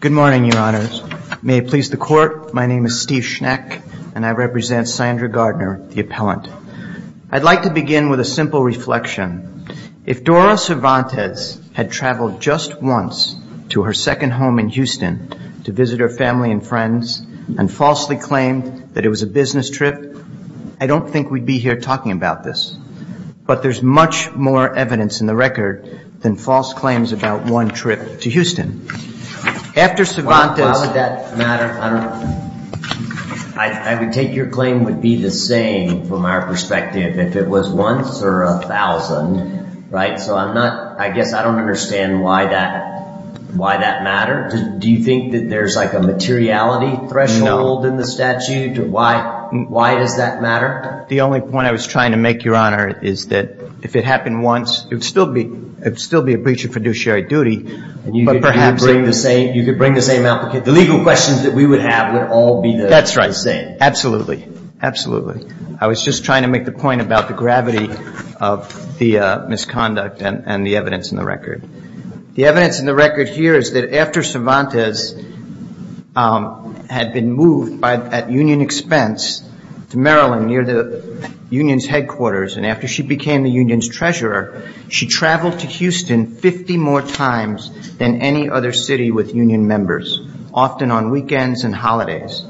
Good morning, your honors. May it please the court, my name is Steve Schneck and I represent Sandra Gardner, the appellant. I'd like to begin with a simple reflection. If Dora Cervantes had traveled just once to her second home in Houston to visit her family and friends and falsely claimed that it was a business trip, I don't think we'd be here talking about this. But there's much more evidence in the record than false claims about one trip to Houston. After Cervantes... Why would that matter? I would take your claim would be the same from our perspective if it was once or a thousand, right? So I'm not, I guess I don't understand why that, why that matters. Do you think that there's like a materiality threshold in the statute? Why, why does that matter? The only point I was trying to make, your honor, is that if it happened once, it would still be, it would still be a breach of fiduciary duty. But perhaps... You could bring the same, you could bring the same applicant. The legal questions that we would have would all be the same. That's right. Absolutely. Absolutely. I was just trying to make the point about the gravity of the misconduct and the evidence in the record. The evidence in the record here is that after Cervantes had been moved at union expense to Maryland near the union's headquarters, and after she became the union's treasurer, she traveled to Houston 50 more times than any other city with union members, often on weekends and holidays.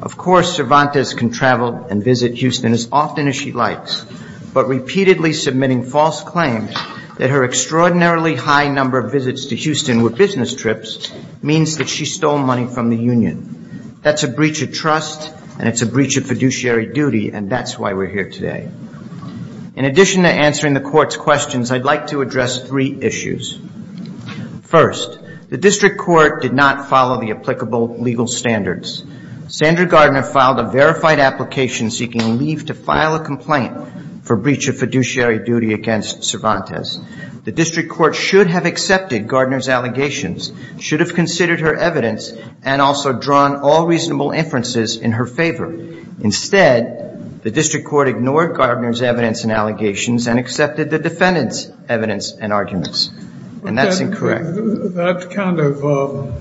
Of course, Cervantes can travel and visit Houston as often as she likes. But repeatedly submitting false claims that her extraordinarily high number of visits to Houston were business trips means that she stole money from the union. That's a breach of trust, and it's a breach of fiduciary duty, and that's why we're here today. In addition to answering the court's questions, I'd like to address three issues. First, the district court did not follow the applicable legal standards. Sandra Gardner filed a verified application seeking leave to file a complaint for breach of fiduciary duty against Cervantes. The district court should have accepted Gardner's allegations, should have considered her evidence, and also drawn all reasonable inferences in her favor. Instead, the district court ignored Gardner's evidence and allegations and accepted the defendant's evidence and arguments, and that's incorrect. That kind of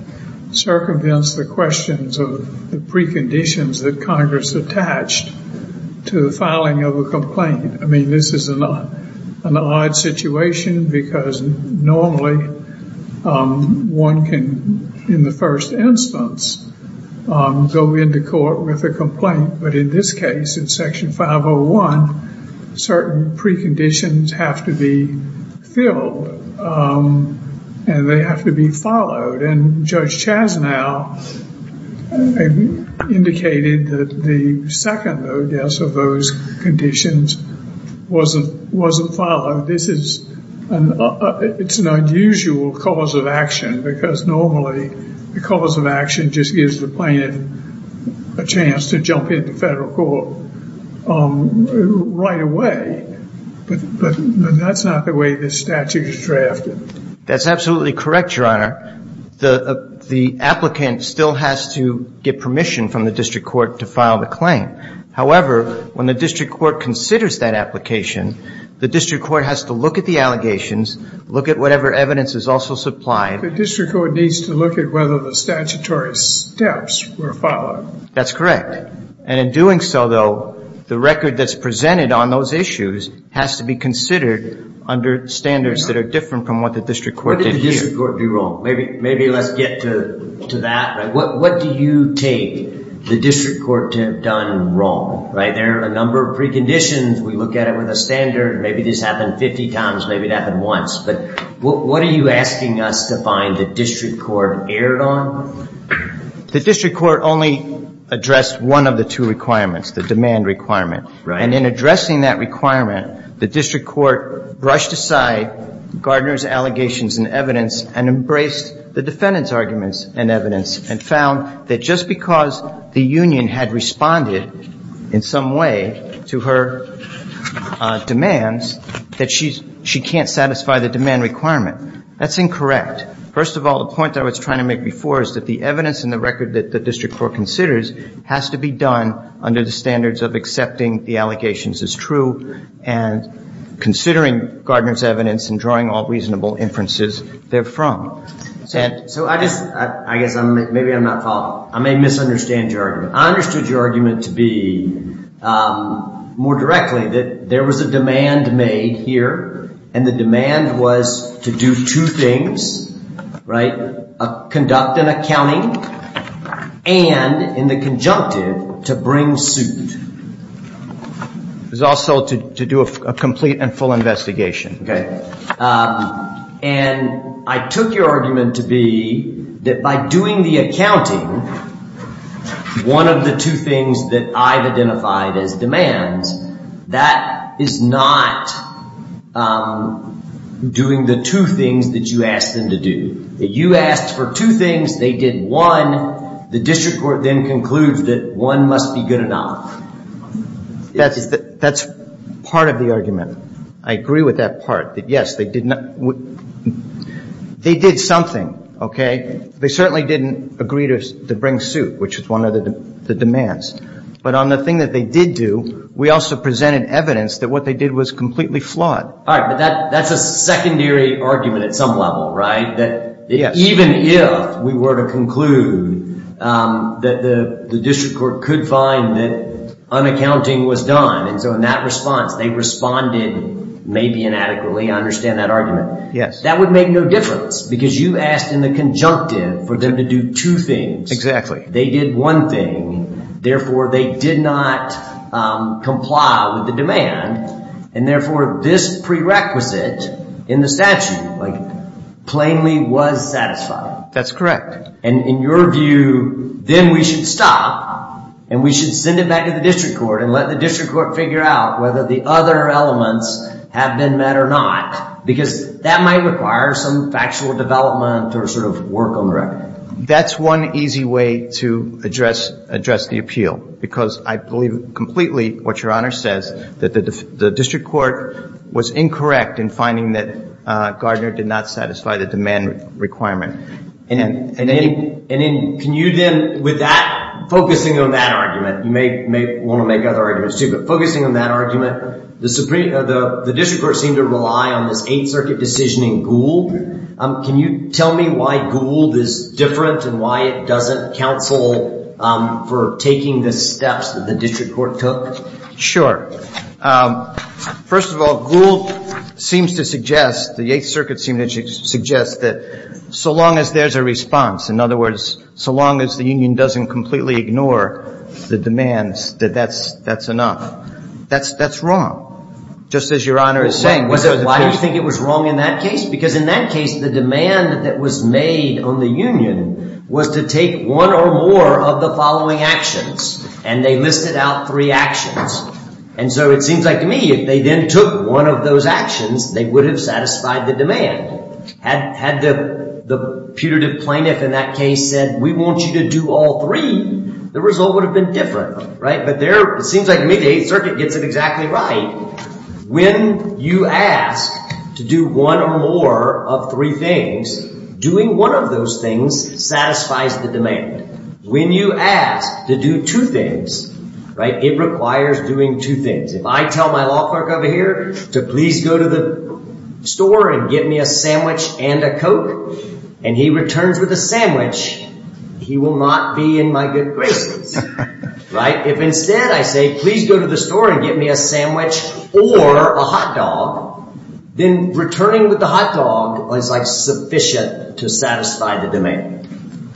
circumvents the questions of the preconditions that Congress attached to the filing of a complaint. I mean, this is an odd situation because normally one can, in the first instance, go into court with a complaint. But in this case, in Section 501, certain preconditions have to be filled, and they have to be followed. And Judge Chasnow indicated that the second notice of those conditions wasn't followed. This is an unusual cause of action because normally the cause of action just gives the plaintiff a chance to jump into federal court right away. But that's not the way this statute is drafted. That's absolutely correct, Your Honor. The applicant still has to get permission from the district court to file the claim. However, when the district court considers that application, the district court has to look at the allegations, look at whatever evidence is also supplied. The district court needs to look at whether the statutory steps were followed. That's correct. And in doing so, though, the record that's presented on those issues has to be considered under standards that are different from what the district court did here. What did the district court do wrong? Maybe let's get to that. What do you take the district court to have done wrong? There are a number of preconditions. We look at it with a standard. Maybe this happened 50 times. Maybe it happened once. But what are you asking us to find the district court erred on? The district court only addressed one of the two requirements, the demand requirement. And in addressing that requirement, the district court brushed aside Gardner's allegations and evidence and embraced the defendant's arguments and evidence. And found that just because the union had responded in some way to her demands, that she can't satisfy the demand requirement. That's incorrect. First of all, the point that I was trying to make before is that the evidence and the record that the district court considers has to be done under the standards of accepting the allegations as true and considering Gardner's evidence and drawing all reasonable inferences therefrom. So I guess maybe I'm not following. I may misunderstand your argument. I understood your argument to be more directly that there was a demand made here, and the demand was to do two things, conduct an accounting, and in the conjunctive, to bring suit. It was also to do a complete and full investigation. And I took your argument to be that by doing the accounting, one of the two things that I've identified as demands, that is not doing the two things that you asked them to do. You asked for two things. They did one. The district court then concludes that one must be good enough. That's part of the argument. I agree with that part, that, yes, they did something. Okay? They certainly didn't agree to bring suit, which is one of the demands. But on the thing that they did do, we also presented evidence that what they did was completely flawed. All right. But that's a secondary argument at some level, right? Yes. Even if we were to conclude that the district court could find that unaccounting was done, and so in that response, they responded maybe inadequately. I understand that argument. Yes. That would make no difference because you asked in the conjunctive for them to do two things. They did one thing. Therefore, they did not comply with the demand. And therefore, this prerequisite in the statute plainly was satisfied. That's correct. And in your view, then we should stop and we should send it back to the district court and let the district court figure out whether the other elements have been met or not. Because that might require some factual development or sort of work on the record. That's one easy way to address the appeal because I believe completely what Your Honor says, that the district court was incorrect in finding that Gardner did not satisfy the demand requirement. And can you then, with that, focusing on that argument, you may want to make other arguments too, but focusing on that argument, the district court seemed to rely on this Eighth Circuit decision in Gould. Can you tell me why Gould is different and why it doesn't counsel for taking the steps that the district court took? Sure. First of all, Gould seems to suggest, the Eighth Circuit seems to suggest that so long as there's a response, in other words, so long as the union doesn't completely ignore the demands, that that's enough. That's wrong, just as Your Honor is saying. Why do you think it was wrong in that case? Because in that case, the demand that was made on the union was to take one or more of the following actions, and they listed out three actions. And so it seems like to me, if they then took one of those actions, they would have satisfied the demand. Had the putative plaintiff in that case said, we want you to do all three, the result would have been different. It seems like to me, the Eighth Circuit gets it exactly right. When you ask to do one or more of three things, doing one of those things satisfies the demand. When you ask to do two things, it requires doing two things. If I tell my law clerk over here to please go to the store and get me a sandwich and a Coke, and he returns with a sandwich, he will not be in my good graces. If instead I say, please go to the store and get me a sandwich or a hot dog, then returning with the hot dog is sufficient to satisfy the demand.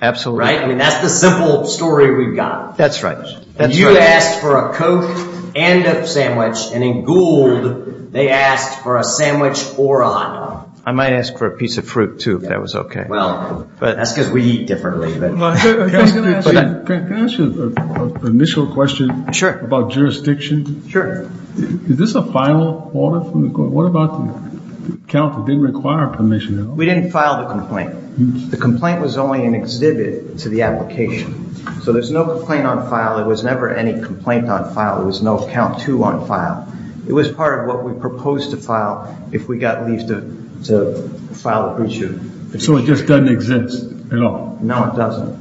Absolutely. That's the simple story we've got. That's right. You asked for a Coke and a sandwich, and in Gould, they asked for a sandwich or a hot dog. I might ask for a piece of fruit too, if that was okay. That's because we eat differently. Can I ask you an initial question about jurisdiction? Is this a final order from the court? What about the count that didn't require permission at all? We didn't file the complaint. The complaint was only an exhibit to the application. So there's no complaint on file. There was never any complaint on file. There was no count two on file. It was part of what we proposed to file if we got leave to file the pre-trial. So it just doesn't exist at all? No, it doesn't.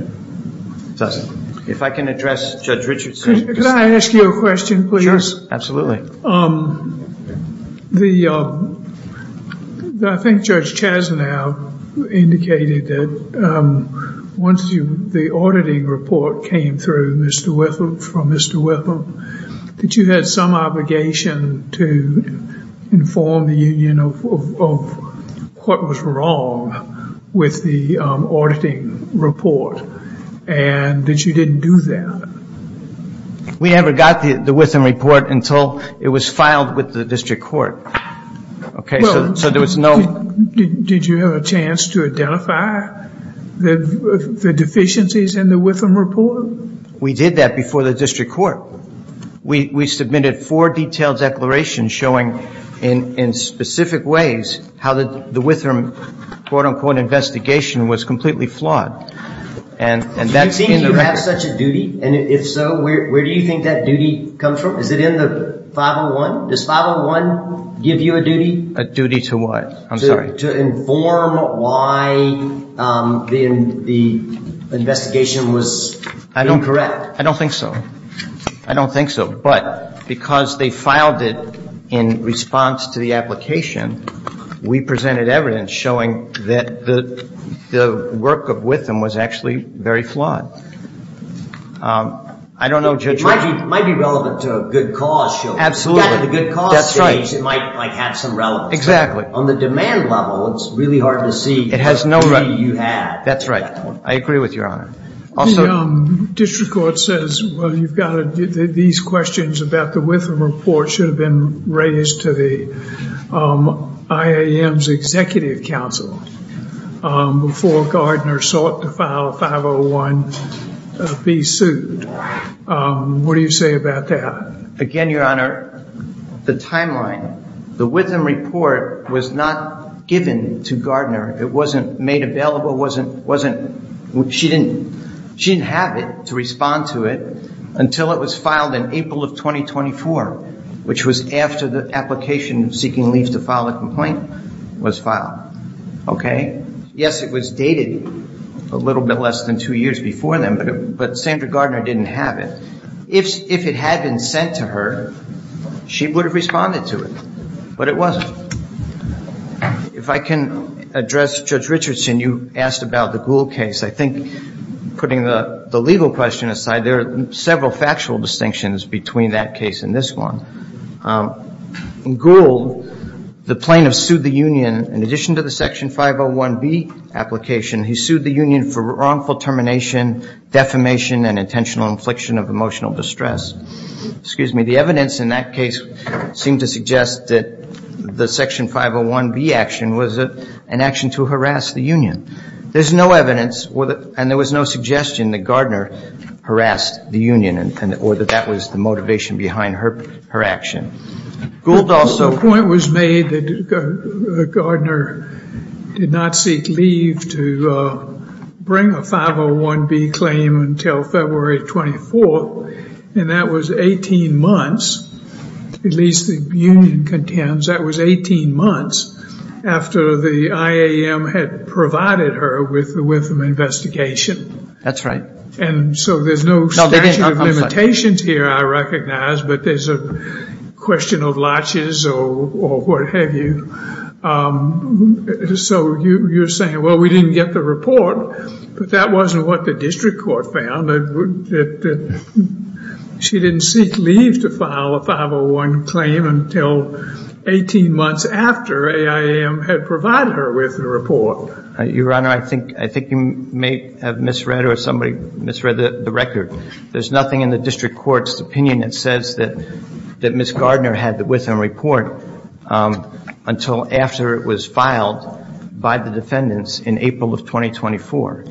It doesn't. If I can address Judge Richardson. Could I ask you a question, please? Sure. Absolutely. I think Judge Chasnow indicated that once the auditing report came through from Mr. Whittle, that you had some obligation to inform the union of what was wrong with the auditing report. And that you didn't do that. We never got the Whitham report until it was filed with the district court. Okay. So there was no Did you have a chance to identify the deficiencies in the Whitham report? We did that before the district court. We submitted four detailed declarations showing in specific ways how the Whitham quote-unquote investigation was completely flawed. Do you think you have such a duty? And if so, where do you think that duty comes from? Is it in the 501? Does 501 give you a duty? A duty to what? I'm sorry. A duty to inform why the investigation was incorrect. I don't think so. I don't think so. But because they filed it in response to the application, we presented evidence showing that the work of Whitham was actually very flawed. I don't know, Judge. It might be relevant to a good cause show. Absolutely. At the good cause stage, it might have some relevance. Exactly. On the demand level, it's really hard to see the duty you have. That's right. I agree with Your Honor. The district court says, well, you've got these questions about the Whitham report should have been raised to the IAM's executive council before Gardner sought to file a 501B suit. What do you say about that? Again, Your Honor, the timeline, the Whitham report was not given to Gardner. It wasn't made available. She didn't have it to respond to it until it was filed in April of 2024, which was after the application seeking leave to file a complaint was filed. Okay? Yes, it was dated a little bit less than two years before then, but Sandra Gardner didn't have it. If it had been sent to her, she would have responded to it, but it wasn't. If I can address Judge Richardson, you asked about the Gould case. I think, putting the legal question aside, there are several factual distinctions between that case and this one. In Gould, the plaintiff sued the union. In addition to the Section 501B application, he sued the union for wrongful termination, defamation, and intentional infliction of emotional distress. The evidence in that case seemed to suggest that the Section 501B action was an action to harass the union. There's no evidence, and there was no suggestion that Gardner harassed the union or that that was the motivation behind her action. The point was made that Gardner did not seek leave to bring a 501B claim until February 24th, and that was 18 months, at least the union contends. That was 18 months after the IAM had provided her with an investigation. That's right. So there's no statute of limitations here, I recognize, but there's a question of latches or what have you. So you're saying, well, we didn't get the report, but that wasn't what the district court found. She didn't seek leave to file a 501 claim until 18 months after IAM had provided her with the report. Your Honor, I think you may have misread or somebody misread the record. There's nothing in the district court's opinion that says that Ms. Gardner had the Witham report until after it was filed by the defendants in April of 2024.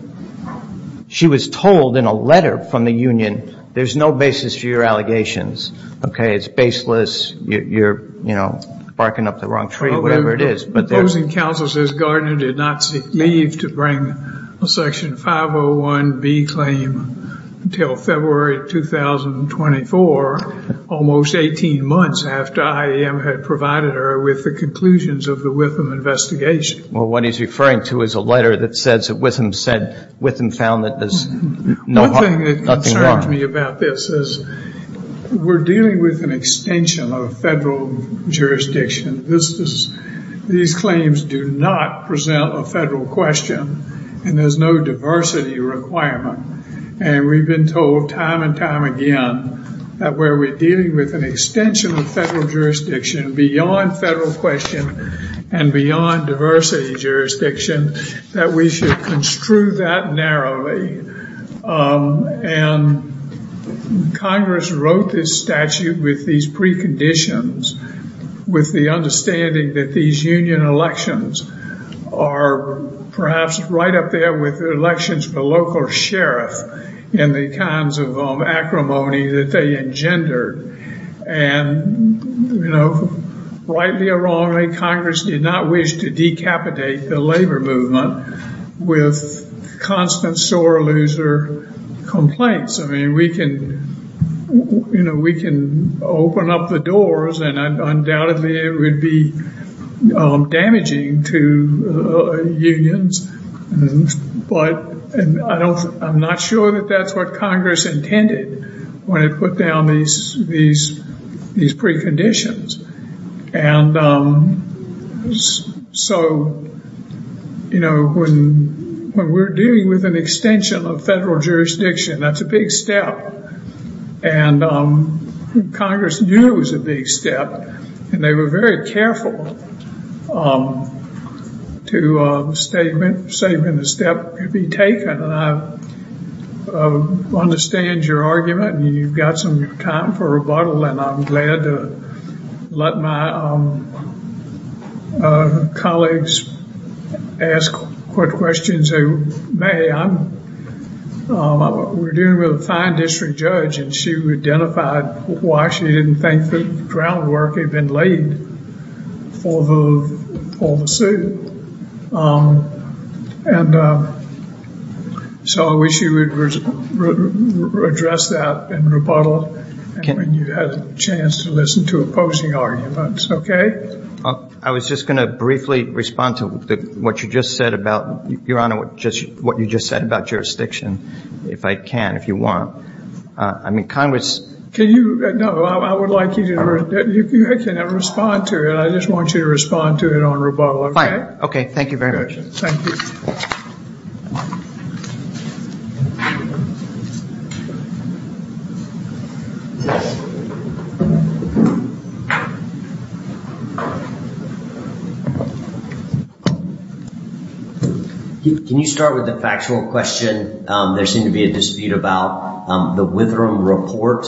She was told in a letter from the union, there's no basis for your allegations. Okay, it's baseless. You're, you know, barking up the wrong tree, whatever it is. The opposing counsel says Gardner did not seek leave to bring a section 501B claim until February 2024, almost 18 months after IAM had provided her with the conclusions of the Witham investigation. Well, what he's referring to is a letter that says that Witham found that there's nothing wrong. One thing that concerns me about this is we're dealing with an extension of federal jurisdiction. These claims do not present a federal question, and there's no diversity requirement. And we've been told time and time again that where we're dealing with an extension of federal jurisdiction beyond federal question and beyond diversity jurisdiction, that we should construe that narrowly. And Congress wrote this statute with these preconditions, with the understanding that these union elections are perhaps right up there with elections for local sheriff and the kinds of acrimony that they engender. And, you know, rightly or wrongly, Congress did not wish to decapitate the labor movement with constant sore loser complaints. I mean, we can, you know, we can open up the doors and undoubtedly it would be damaging to unions. But I'm not sure that that's what Congress intended when it put down these preconditions. And so, you know, when we're dealing with an extension of federal jurisdiction, that's a big step. And Congress knew it was a big step, and they were very careful to say when a step could be taken. And I understand your argument, and you've got some time for rebuttal, and I'm glad to let my colleagues ask what questions they may. We're dealing with a fine district judge, and she identified why she didn't think the groundwork had been laid for the suit. And so I wish you would address that in rebuttal when you had a chance to listen to opposing arguments, okay? I was just going to briefly respond to what you just said about, Your Honor, what you just said about jurisdiction, if I can, if you want. I mean, Congress — Can you — no, I would like you to — I can respond to it. I just want you to respond to it on rebuttal, okay? Fine. Okay. Thank you very much. Thank you. Can you start with the factual question? There seemed to be a dispute about the Withram report.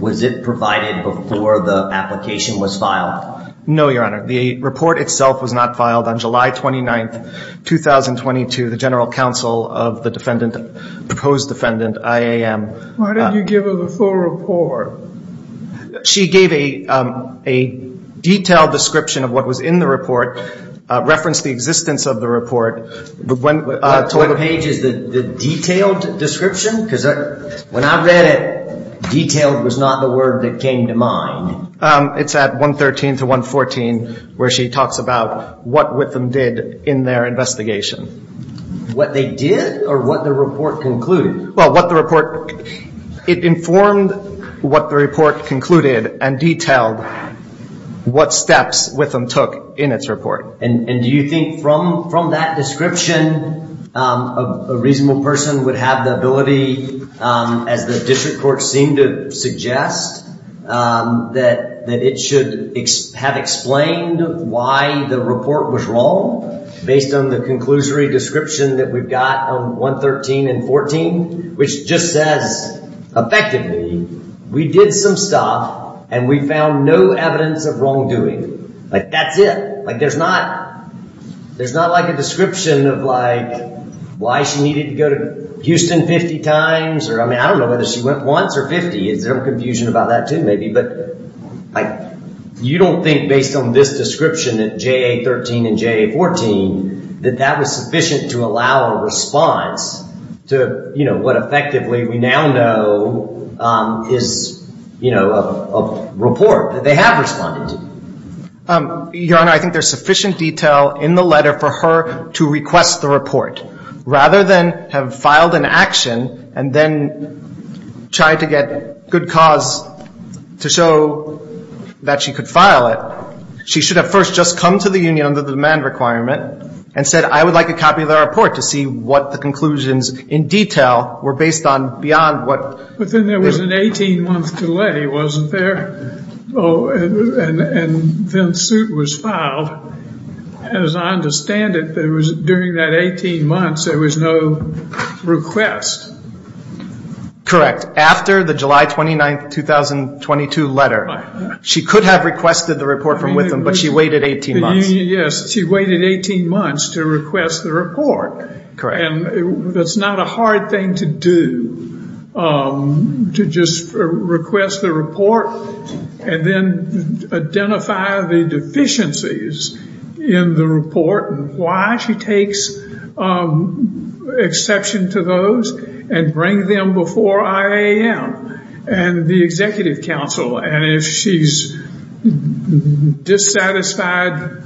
Was it provided before the application was filed? No, Your Honor. The report itself was not filed on July 29, 2022. The general counsel of the defendant, proposed defendant, IAM — Why didn't you give her the full report? She gave a detailed description of what was in the report, referenced the existence of the report. What page is the detailed description? Because when I read it, detailed was not the word that came to mind. It's at 113 to 114, where she talks about what Withram did in their investigation. What they did or what the report concluded? Well, what the report — it informed what the report concluded and detailed what steps Withram took in its report. And do you think from that description, a reasonable person would have the ability, as the district court seemed to suggest, that it should have explained why the report was wrong, based on the conclusory description that we've got on 113 and 114? Which just says, effectively, we did some stuff and we found no evidence of wrongdoing. Like, that's it. Like, there's not — there's not like a description of like, why she needed to go to Houston 50 times. I mean, I don't know whether she went once or 50. Is there confusion about that, too, maybe? But like, you don't think, based on this description at JA13 and JA14, that that was sufficient to allow a response to, you know, what effectively we now know is, you know, a report that they have responded to? Your Honor, I think there's sufficient detail in the letter for her to request the report. Rather than have filed an action and then tried to get good cause to show that she could file it, she should have first just come to the union under the demand requirement and said, I would like a copy of the report to see what the conclusions in detail were based on beyond what — But then there was an 18-month delay, wasn't there? Oh, and then suit was filed. As I understand it, there was — during that 18 months, there was no request. Correct. After the July 29, 2022 letter. She could have requested the report from Witham, but she waited 18 months. Yes, she waited 18 months to request the report. Correct. And that's not a hard thing to do, to just request the report and then identify the deficiencies in the report. Why she takes exception to those and bring them before IAM and the executive council. And if she's dissatisfied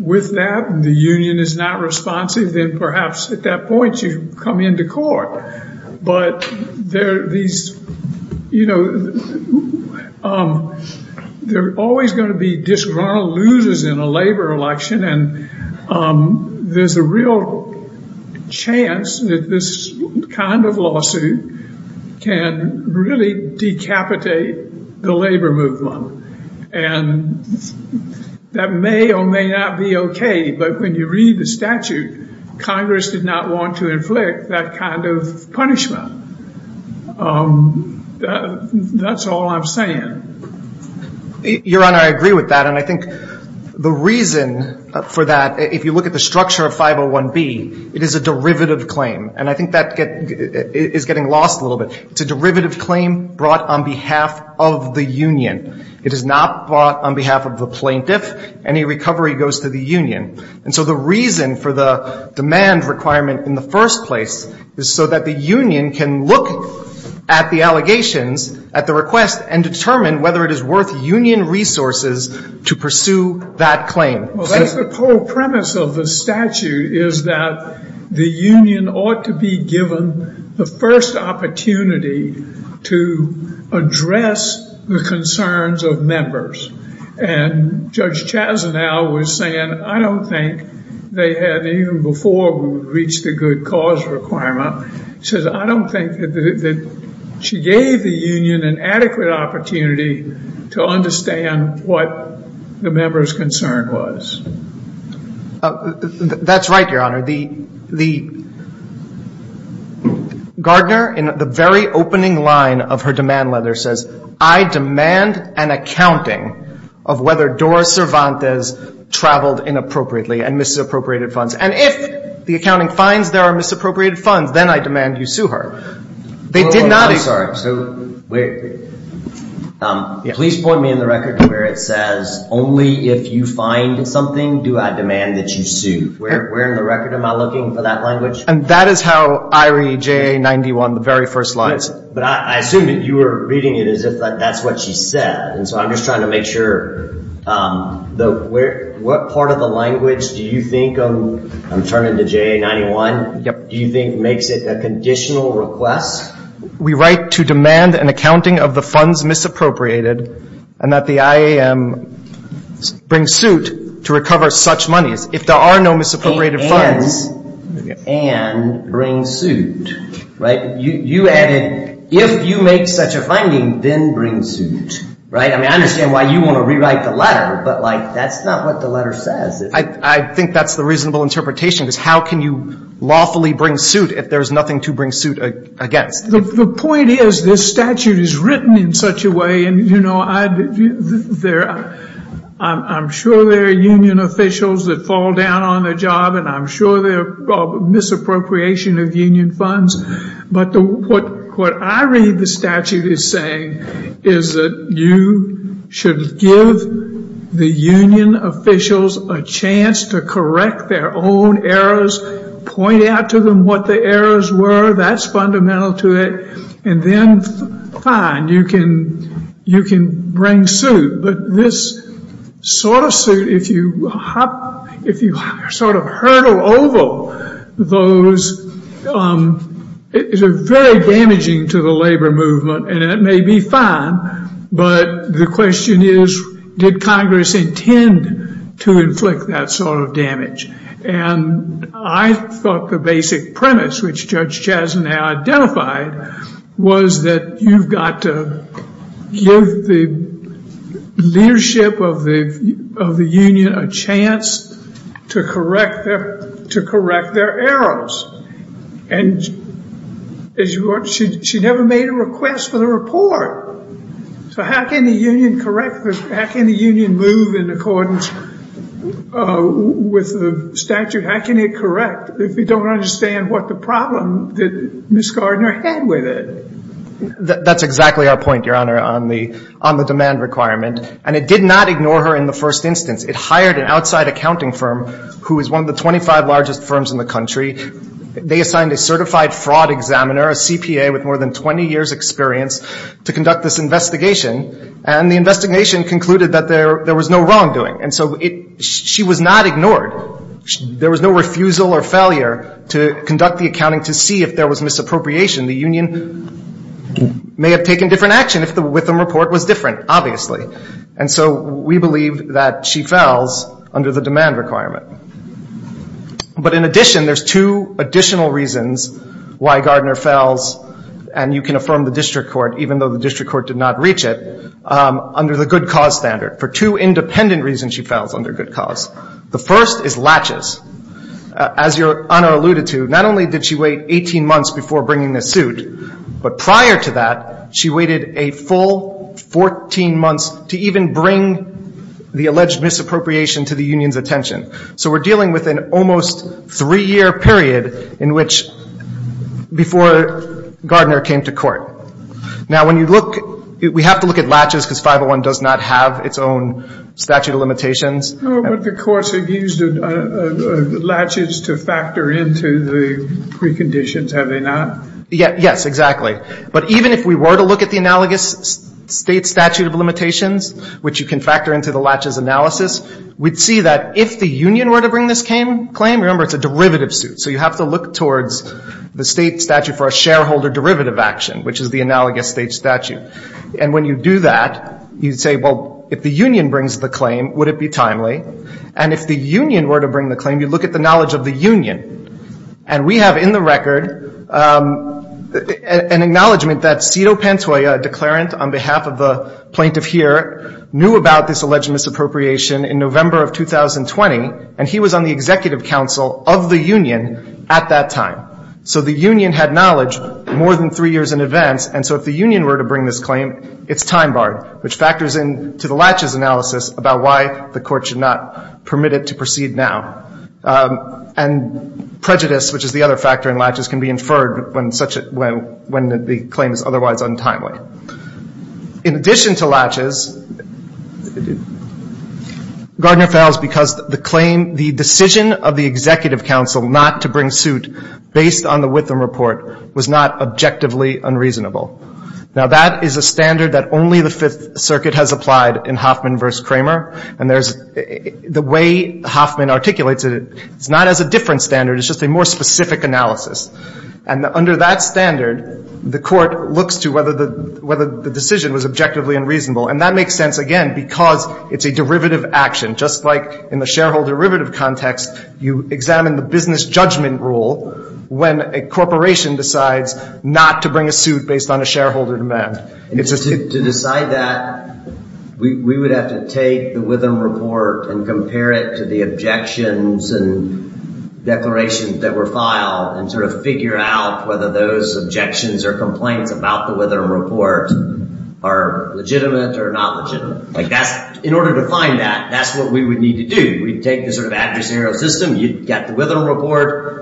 with that, the union is not responsive, then perhaps at that point you come into court. But there are these — you know, there are always going to be disgruntled losers in a labor election. And there's a real chance that this kind of lawsuit can really decapitate the labor movement. And that may or may not be OK. But when you read the statute, Congress did not want to inflict that kind of punishment. That's all I'm saying. Your Honor, I agree with that. And I think the reason for that, if you look at the structure of 501B, it is a derivative claim. And I think that is getting lost a little bit. It's a derivative claim brought on behalf of the union. It is not brought on behalf of the plaintiff. Any recovery goes to the union. And so the reason for the demand requirement in the first place is so that the union can look at the allegations, at the request, and determine whether it is worth union resources to pursue that claim. Well, that's the whole premise of the statute, is that the union ought to be given the first opportunity to address the concerns of members. And Judge Chazinow was saying, I don't think they had, even before we would reach the good cause requirement, she says, I don't think that she gave the union an adequate opportunity to understand what the member's concern was. That's right, Your Honor. Gardner, in the very opening line of her demand letter, says, I demand an accounting of whether Doris Cervantes traveled inappropriately and misappropriated funds. And if the accounting finds there are misappropriated funds, then I demand you sue her. They did not. I'm sorry. So please point me in the record to where it says, only if you find something do I demand that you sue. Where in the record am I looking for that language? And that is how I read JA-91, the very first lines. But I assume that you were reading it as if that's what she said. And so I'm just trying to make sure, what part of the language do you think, I'm turning to JA-91, do you think makes it a conditional request? We write to demand an accounting of the funds misappropriated and that the IAM bring suit to recover such monies. If there are no misappropriated funds. And bring suit. You added, if you make such a finding, then bring suit. I understand why you want to rewrite the letter, but that's not what the letter says. I think that's the reasonable interpretation. How can you lawfully bring suit if there's nothing to bring suit against? The point is, this statute is written in such a way, and I'm sure there are union officials that fall down on their job, and I'm sure there are misappropriation of union funds. But what I read the statute is saying is that you should give the union officials a chance to correct their own errors. Point out to them what the errors were. That's fundamental to it. And then, fine, you can bring suit. But this sort of suit, if you sort of hurdle over those, is very damaging to the labor movement. And it may be fine, but the question is, did Congress intend to inflict that sort of damage? And I thought the basic premise, which Judge Chastin identified, was that you've got to give the leadership of the union a chance to correct their errors. And she never made a request for the report. So how can the union correct this? How can the union move in accordance with the statute? How can it correct if you don't understand what the problem that Ms. Gardner had with it? That's exactly our point, Your Honor, on the demand requirement. And it did not ignore her in the first instance. It hired an outside accounting firm who is one of the 25 largest firms in the country. They assigned a certified fraud examiner, a CPA with more than 20 years' experience, to conduct this investigation. And the investigation concluded that there was no wrongdoing. And so she was not ignored. There was no refusal or failure to conduct the accounting to see if there was misappropriation. The union may have taken different action if the Witham report was different, obviously. And so we believe that she fells under the demand requirement. But in addition, there's two additional reasons why Gardner fells, and you can affirm the district court even though the district court did not reach it, under the good cause standard. For two independent reasons she fells under good cause. The first is latches. As Your Honor alluded to, not only did she wait 18 months before bringing this suit, but prior to that she waited a full 14 months to even bring the alleged misappropriation to the union's attention. So we're dealing with an almost three-year period in which before Gardner came to court. Now, when you look, we have to look at latches because 501 does not have its own statute of limitations. But the courts have used latches to factor into the preconditions, have they not? Yes, exactly. But even if we were to look at the analogous state statute of limitations, which you can factor into the latches analysis, we'd see that if the union were to bring this claim, remember it's a derivative suit. So you have to look towards the state statute for a shareholder derivative action, which is the analogous state statute. And when you do that, you say, well, if the union brings the claim, would it be timely? And if the union were to bring the claim, you look at the knowledge of the union. And we have in the record an acknowledgment that Cito Pantoja, a declarant on behalf of the plaintiff here, knew about this alleged misappropriation in November of 2020, and he was on the executive council of the union at that time. So the union had knowledge more than three years in advance. And so if the union were to bring this claim, it's time-barred, which factors into the latches analysis about why the court should not permit it to proceed now. And prejudice, which is the other factor in latches, can be inferred when the claim is otherwise untimely. In addition to latches, Gardner fails because the claim, the decision of the executive council not to bring suit based on the Witham report, was not objectively unreasonable. Now, that is a standard that only the Fifth Circuit has applied in Hoffman v. Kramer. And the way Hoffman articulates it, it's not as a different standard. It's just a more specific analysis. And under that standard, the court looks to whether the decision was objectively unreasonable. And that makes sense, again, because it's a derivative action. Just like in the shareholder derivative context, you examine the business judgment rule when a corporation decides not to bring a suit based on a shareholder demand. To decide that, we would have to take the Witham report and compare it to the objections and declarations that were filed and sort of figure out whether those objections or complaints about the Witham report are legitimate or not legitimate. In order to find that, that's what we would need to do. We'd take the sort of adversarial system. You'd get the Witham report.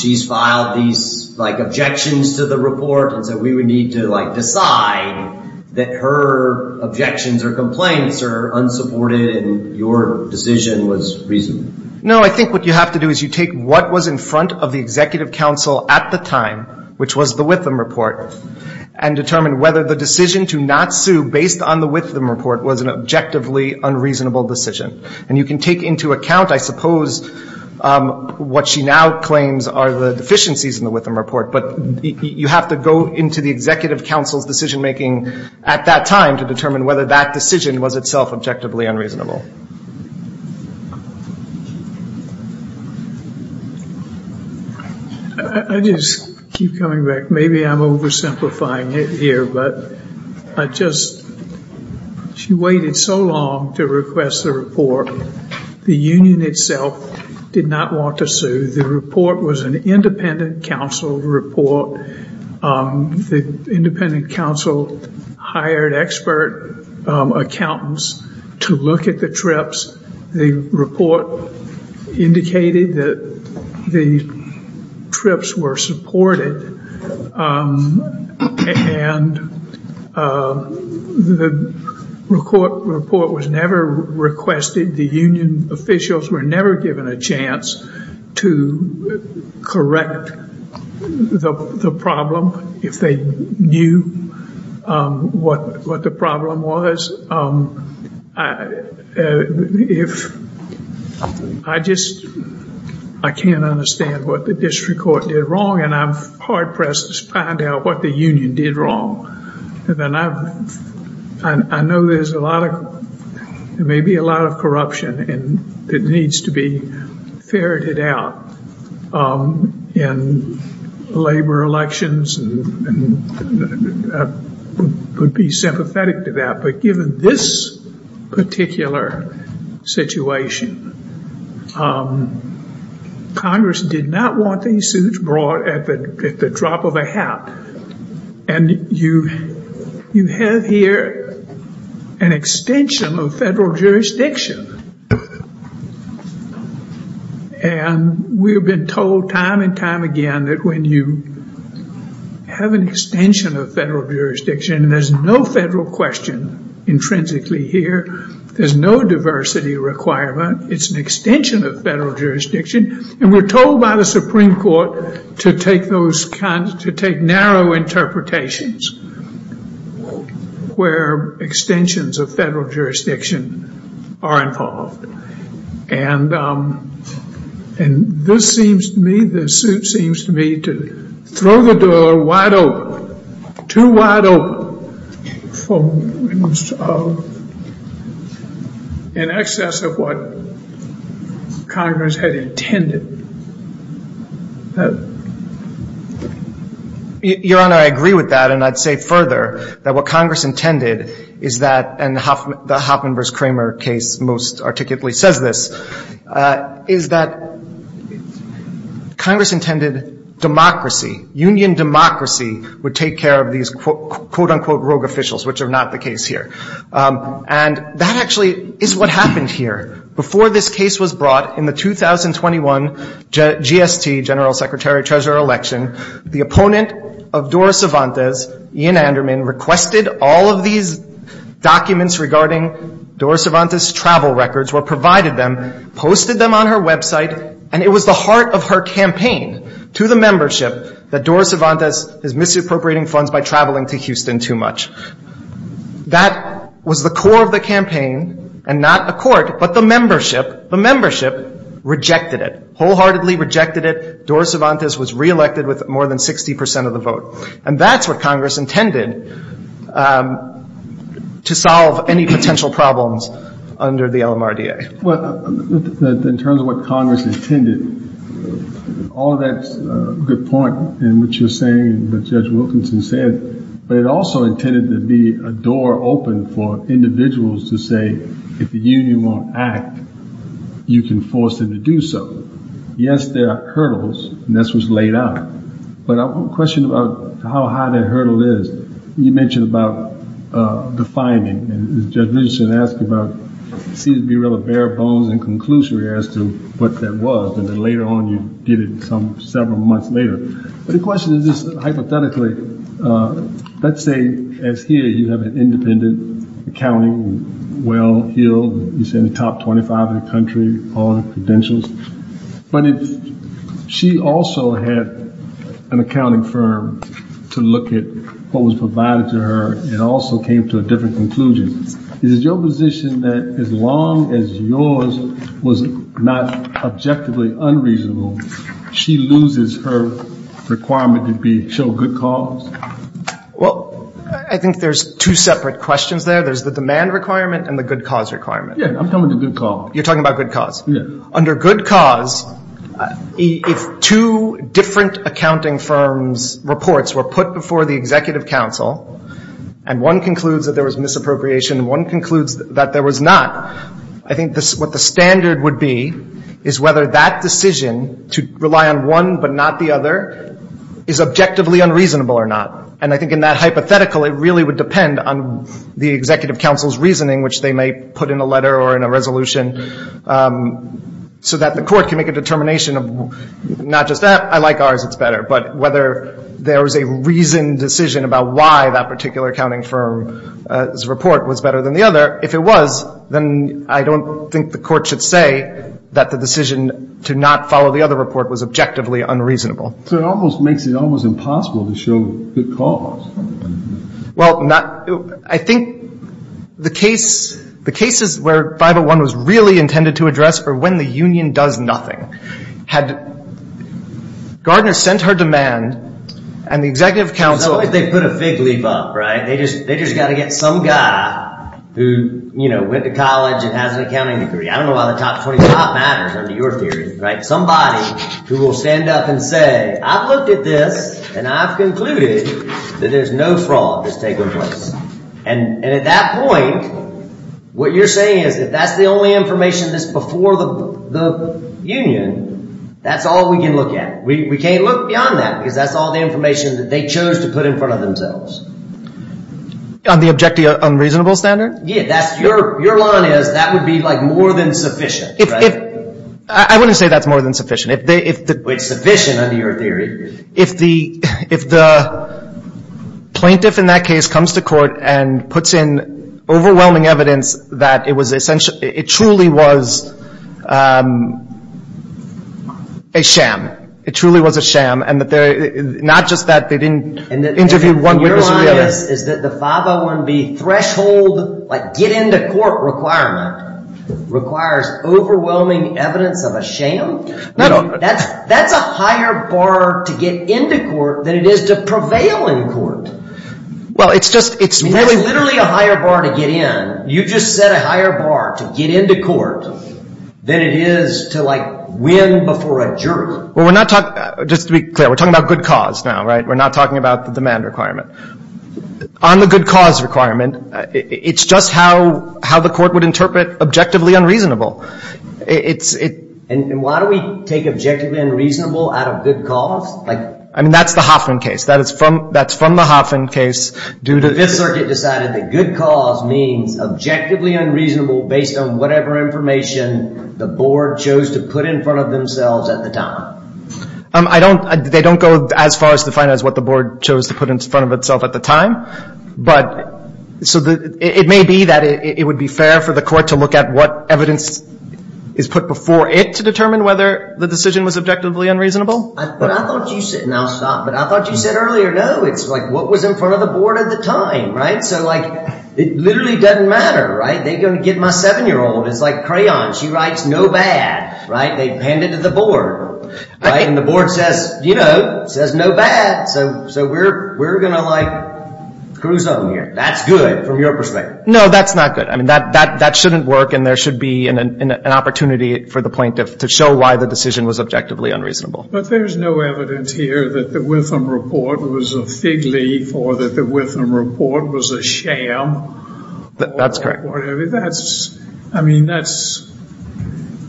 She's filed these objections to the report. And so we would need to, like, decide that her objections or complaints are unsupported and your decision was reasonable. No, I think what you have to do is you take what was in front of the executive counsel at the time, which was the Witham report, and determine whether the decision to not sue based on the Witham report was an objectively unreasonable decision. And you can take into account, I suppose, what she now claims are the deficiencies in the Witham report. But you have to go into the executive counsel's decision-making at that time to determine whether that decision was itself objectively unreasonable. I just keep coming back. Maybe I'm oversimplifying it here. But I just, she waited so long to request the report. The union itself did not want to sue. The report was an independent counsel report. The independent counsel hired expert accountants to look at the TRIPS. The report indicated that the TRIPS were supported. And the report was never requested. The union officials were never given a chance to correct the problem, if they knew what the problem was. I just, I can't understand what the district court did wrong, and I'm hard-pressed to find out what the union did wrong. I know there's a lot of, maybe a lot of corruption that needs to be ferreted out in labor elections. I would be sympathetic to that. But given this particular situation, Congress did not want these suits brought at the drop of a hat. And you have here an extension of federal jurisdiction. And we have been told time and time again that when you have an extension of federal jurisdiction, there's no federal question intrinsically here. There's no diversity requirement. It's an extension of federal jurisdiction. And we're told by the Supreme Court to take those kinds, to take narrow interpretations where extensions of federal jurisdiction are involved. And this seems to me, this suit seems to me to throw the door wide open, too wide open for an excess of what Congress had intended. Your Honor, I agree with that. And I'd say further that what Congress intended is that, and the Hoffman v. Kramer case most articulately says this, is that Congress intended democracy, union democracy, would take care of these quote-unquote rogue officials, which are not the case here. And that actually is what happened here. Before this case was brought in the 2021 GST, General Secretary-Treasurer election, the opponent of Dora Cervantes, Ian Anderman, requested all of these documents regarding Dora Cervantes' travel records, were provided them, posted them on her website, and it was the heart of her campaign to the membership that Dora Cervantes is misappropriating funds by traveling to Houston too much. That was the core of the campaign and not a court, but the membership, the membership rejected it, wholeheartedly rejected it. Dora Cervantes was reelected with more than 60 percent of the vote. And that's what Congress intended to solve any potential problems under the LMRDA. Well, in terms of what Congress intended, all that's a good point in what you're saying, what Judge Wilkinson said, but it also intended to be a door open for individuals to say, if the union won't act, you can force them to do so. Yes, there are hurdles, and this was laid out. But I have a question about how high that hurdle is. You mentioned about defining, and Judge Wilkinson asked about, it seems to be really bare bones and conclusory as to what that was, and then later on you did it several months later. But the question is this, hypothetically, let's say, as here, you have an independent accounting, well-heeled, you say in the top 25 in the country, but if she also had an accounting firm to look at what was provided to her and also came to a different conclusion, is it your position that as long as yours was not objectively unreasonable, she loses her requirement to show good cause? Well, I think there's two separate questions there. There's the demand requirement and the good cause requirement. Yes, I'm talking about the good cause. You're talking about good cause. Under good cause, if two different accounting firms' reports were put before the executive council and one concludes that there was misappropriation and one concludes that there was not, I think what the standard would be is whether that decision to rely on one but not the other is objectively unreasonable or not. And I think in that hypothetical, it really would depend on the executive council's reasoning, which they may put in a letter or in a resolution, so that the court can make a determination of not just that, I like ours, it's better, but whether there was a reasoned decision about why that particular accounting firm's report was better than the other. If it was, then I don't think the court should say that the decision to not follow the other report was objectively unreasonable. So it almost makes it almost impossible to show good cause. Well, I think the cases where 501 was really intended to address were when the union does nothing. Had Gardner sent her demand and the executive council... It's not like they put a fig leaf up, right? They just got to get some guy who, you know, went to college and has an accounting degree. I don't know why the top 25 matters under your theory, right? Somebody who will stand up and say, I've looked at this and I've concluded that there's no fraud that's taken place. And at that point, what you're saying is that that's the only information that's before the union. That's all we can look at. We can't look beyond that because that's all the information that they chose to put in front of themselves. On the objective unreasonable standard? Yeah, your line is that would be like more than sufficient, right? I wouldn't say that's more than sufficient. It's sufficient under your theory. If the plaintiff in that case comes to court and puts in overwhelming evidence that it truly was a sham. It truly was a sham. And not just that they didn't interview one witness. Your line is that the 501B threshold, like get into court requirement, requires overwhelming evidence of a sham? That's a higher bar to get into court than it is to prevail in court. It's literally a higher bar to get in. You just set a higher bar to get into court than it is to like win before a jury. Just to be clear, we're talking about good cause now, right? We're not talking about the demand requirement. On the good cause requirement, it's just how the court would interpret objectively unreasonable. And why do we take objectively unreasonable out of good cause? I mean, that's the Hoffman case. That's from the Hoffman case. The Fifth Circuit decided that good cause means objectively unreasonable based on whatever information the board chose to put in front of themselves at the time. They don't go as far as to define it as what the board chose to put in front of itself at the time. So it may be that it would be fair for the court to look at what evidence is put before it to determine whether the decision was objectively unreasonable. But I thought you said, and I'll stop, but I thought you said earlier, no, it's like what was in front of the board at the time, right? So like it literally doesn't matter, right? They're going to get my 7-year-old. It's like crayon. She writes no bad, right? They hand it to the board, right? And the board says, you know, says no bad. So we're going to like cruise on here. That's good from your perspective. No, that's not good. I mean, that shouldn't work, and there should be an opportunity for the plaintiff to show why the decision was objectively unreasonable. But there's no evidence here that the Witham report was a fig leaf or that the Witham report was a sham. That's correct. I mean, that's,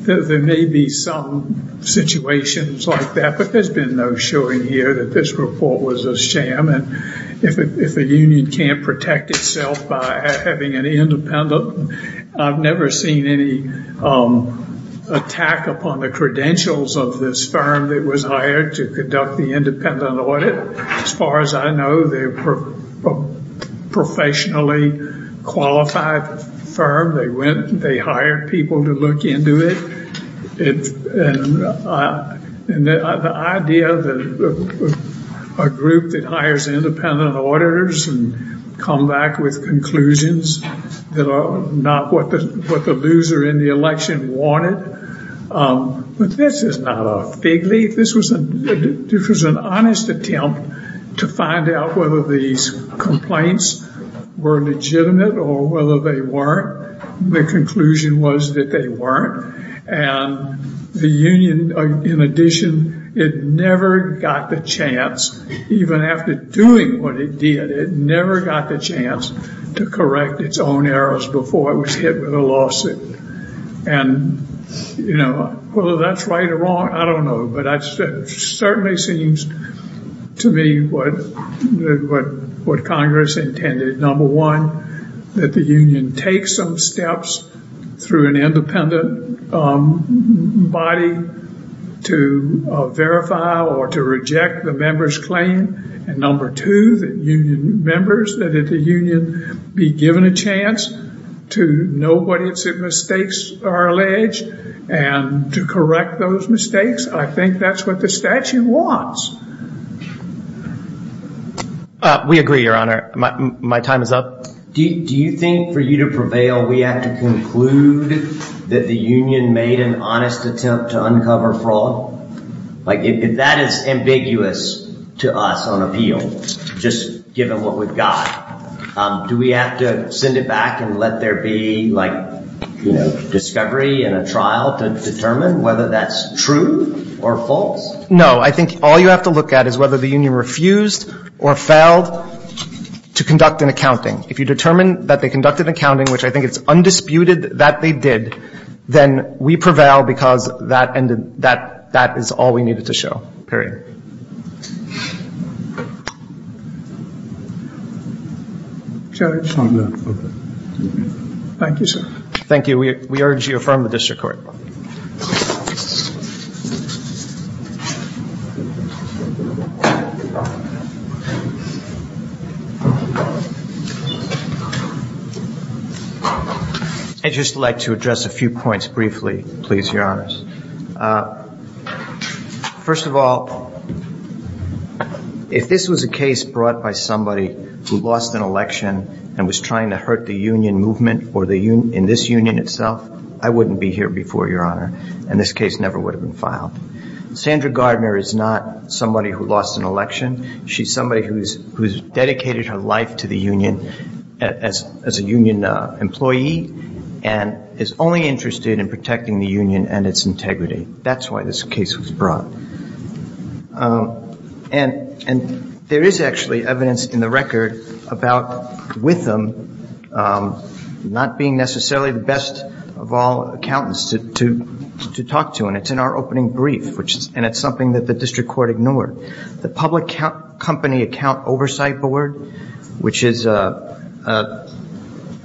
there may be some situations like that, but there's been no showing here that this report was a sham. And if a union can't protect itself by having an independent, I've never seen any attack upon the credentials of this firm that was hired to conduct the independent audit. As far as I know, they're a professionally qualified firm. They hired people to look into it. And the idea that a group that hires independent auditors and come back with conclusions that are not what the loser in the election wanted, but this is not a fig leaf. This was an honest attempt to find out whether these complaints were legitimate or whether they weren't. The conclusion was that they weren't. And the union, in addition, it never got the chance, even after doing what it did, it never got the chance to correct its own errors before it was hit with a lawsuit. And, you know, whether that's right or wrong, I don't know. But it certainly seems to me what Congress intended. Number one, that the union take some steps through an independent body to verify or to reject the member's claim. And number two, that union members, that the union be given a chance to know what mistakes are alleged and to correct those mistakes. I think that's what the statute wants. We agree, Your Honor. My time is up. Do you think for you to prevail, we have to conclude that the union made an honest attempt to uncover fraud? Like, that is ambiguous to us on appeal, just given what we've got. Do we have to send it back and let there be, like, discovery in a trial to determine whether that's true or false? No. I think all you have to look at is whether the union refused or failed to conduct an accounting. If you determine that they conducted an accounting, which I think it's undisputed that they did, then we prevail because that is all we needed to show. Thank you, sir. Thank you. We urge you to affirm the district court. I'd just like to address a few points briefly, please, Your Honors. First of all, if this was a case brought by somebody who lost an election and was trying to hurt the union movement or in this union itself, I wouldn't be here before, Your Honor. And this case never would have been filed. Sandra Gardner is not somebody who lost an election. She's somebody who's dedicated her life to the union as a union employee and is only interested in protecting the union and its integrity. That's why this case was brought. And there is actually evidence in the record about with them not being necessarily the best of all accountants to talk to. And it's in our opening brief, and it's something that the district court ignored. The Public Company Account Oversight Board, which is a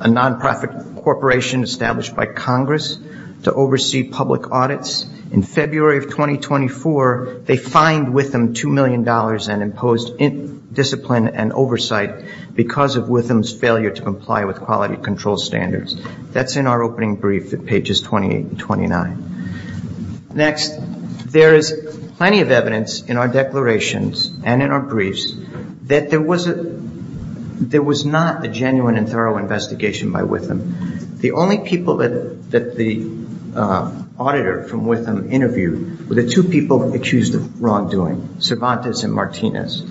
nonprofit corporation established by Congress to oversee public audits, in February of 2024, they fined Witham $2 million and imposed discipline and oversight because of Witham's failure to comply with quality control standards. That's in our opening brief at pages 28 and 29. Next, there is plenty of evidence in our declarations and in our briefs that there was not a genuine and thorough investigation by Witham. The only people that the auditor from Witham interviewed were the two people accused of wrongdoing, Cervantes and Martinez.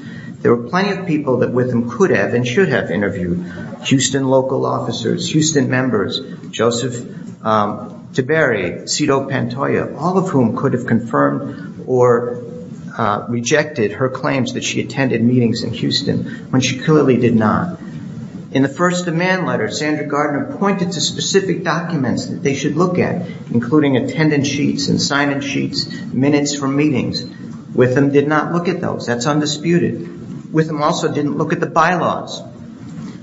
There were plenty of people that Witham could have and should have interviewed, Houston local officers, Houston members, Joseph Tiberi, Cito Pantoja, all of whom could have confirmed or rejected her claims that she attended meetings in Houston when she clearly did not. In the first demand letter, Sandra Gardner pointed to specific documents that they should look at, including attendance sheets and sign-in sheets, minutes from meetings. Witham did not look at those. That's undisputed. Witham also didn't look at the bylaws.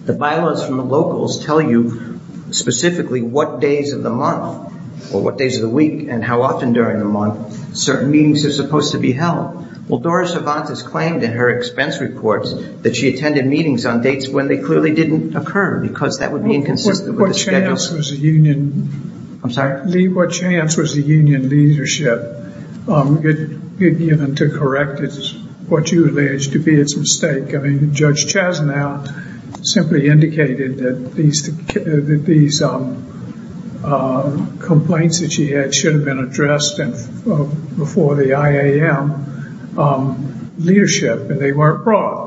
The bylaws from the locals tell you specifically what days of the month or what days of the week and how often during the month certain meetings are supposed to be held. Well, Doris Cervantes claimed in her expense reports that she attended meetings on dates when they clearly didn't occur because that would be inconsistent with the schedule. Lee, what chance was the union leadership given to correct what you allege to be its mistake? I mean, Judge Chasnow simply indicated that these complaints that she had should have been addressed before the IAM leadership, but they weren't brought.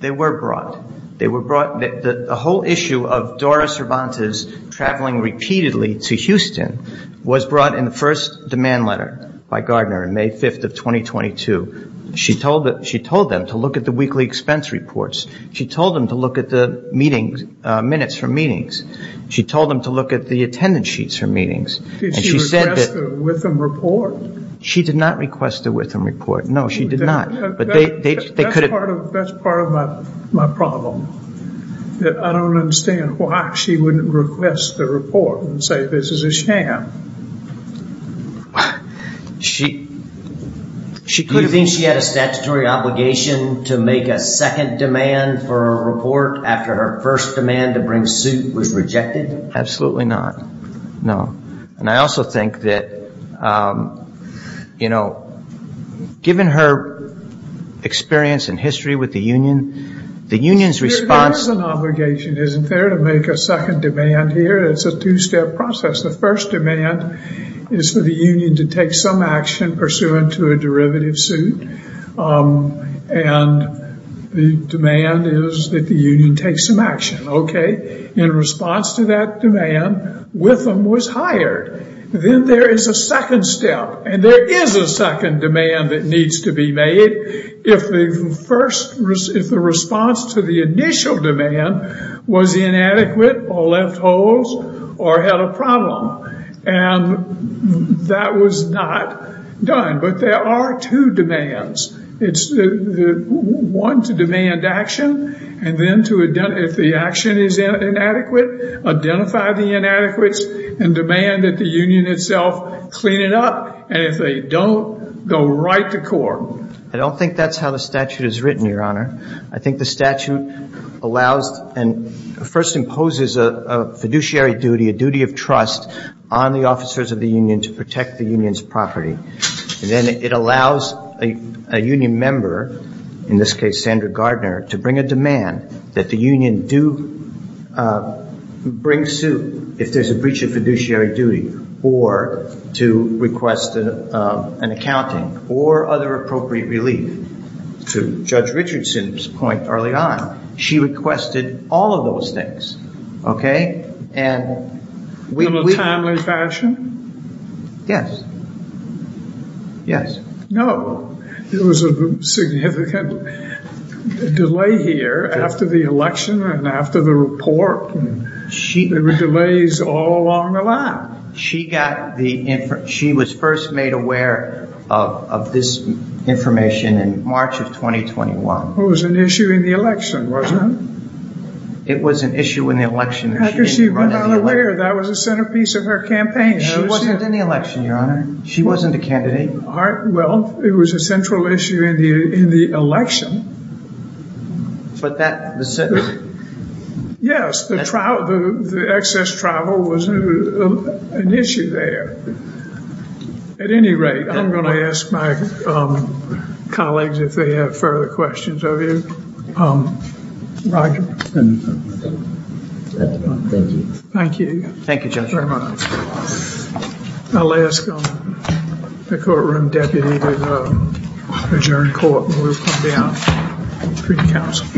They were brought. They were brought. The whole issue of Doris Cervantes traveling repeatedly to Houston was brought in the first demand letter by Gardner on May 5th of 2022. She told them to look at the weekly expense reports. She told them to look at the minutes from meetings. She told them to look at the attendance sheets from meetings. Did she request the Witham report? She did not request the Witham report. No, she did not. That's part of my problem. I don't understand why she wouldn't request the report and say this is a sham. Do you think she had a statutory obligation to make a second demand for a report after her first demand to bring suit was rejected? Absolutely not. No. And I also think that, you know, given her experience and history with the union, the union's response... There is an obligation. Isn't there to make a second demand here? It's a two-step process. The first demand is for the union to take some action pursuant to a derivative suit, and the demand is that the union take some action. Okay. In response to that demand, Witham was hired. Then there is a second step, and there is a second demand that needs to be made. If the response to the initial demand was inadequate or left holes or had a problem, and that was not done. But there are two demands. It's one to demand action, and then if the action is inadequate, identify the inadequacy and demand that the union itself clean it up. And if they don't, go right to court. I don't think that's how the statute is written, Your Honor. I think the statute allows and first imposes a fiduciary duty, a duty of trust on the officers of the union to protect the union's property. Then it allows a union member, in this case Sandra Gardner, to bring a demand that the union do bring suit if there's a breach of fiduciary duty, or to request an accounting or other appropriate relief. To Judge Richardson's point early on, she requested all of those things. Okay. In a timely fashion? Yes. Yes. No. There was a significant delay here after the election and after the report. There were delays all along the line. She was first made aware of this information in March of 2021. It was an issue in the election, wasn't it? It was an issue in the election. How could she have been unaware? That was the centerpiece of her campaign. It wasn't in the election, Your Honor. She wasn't a candidate. Well, it was a central issue in the election. Yes. The excess travel was an issue there. At any rate, I'm going to ask my colleagues if they have further questions of you. Roger. Thank you. Thank you. Thank you, Judge. I'll ask the courtroom deputy to adjourn court. We'll come down for counsel.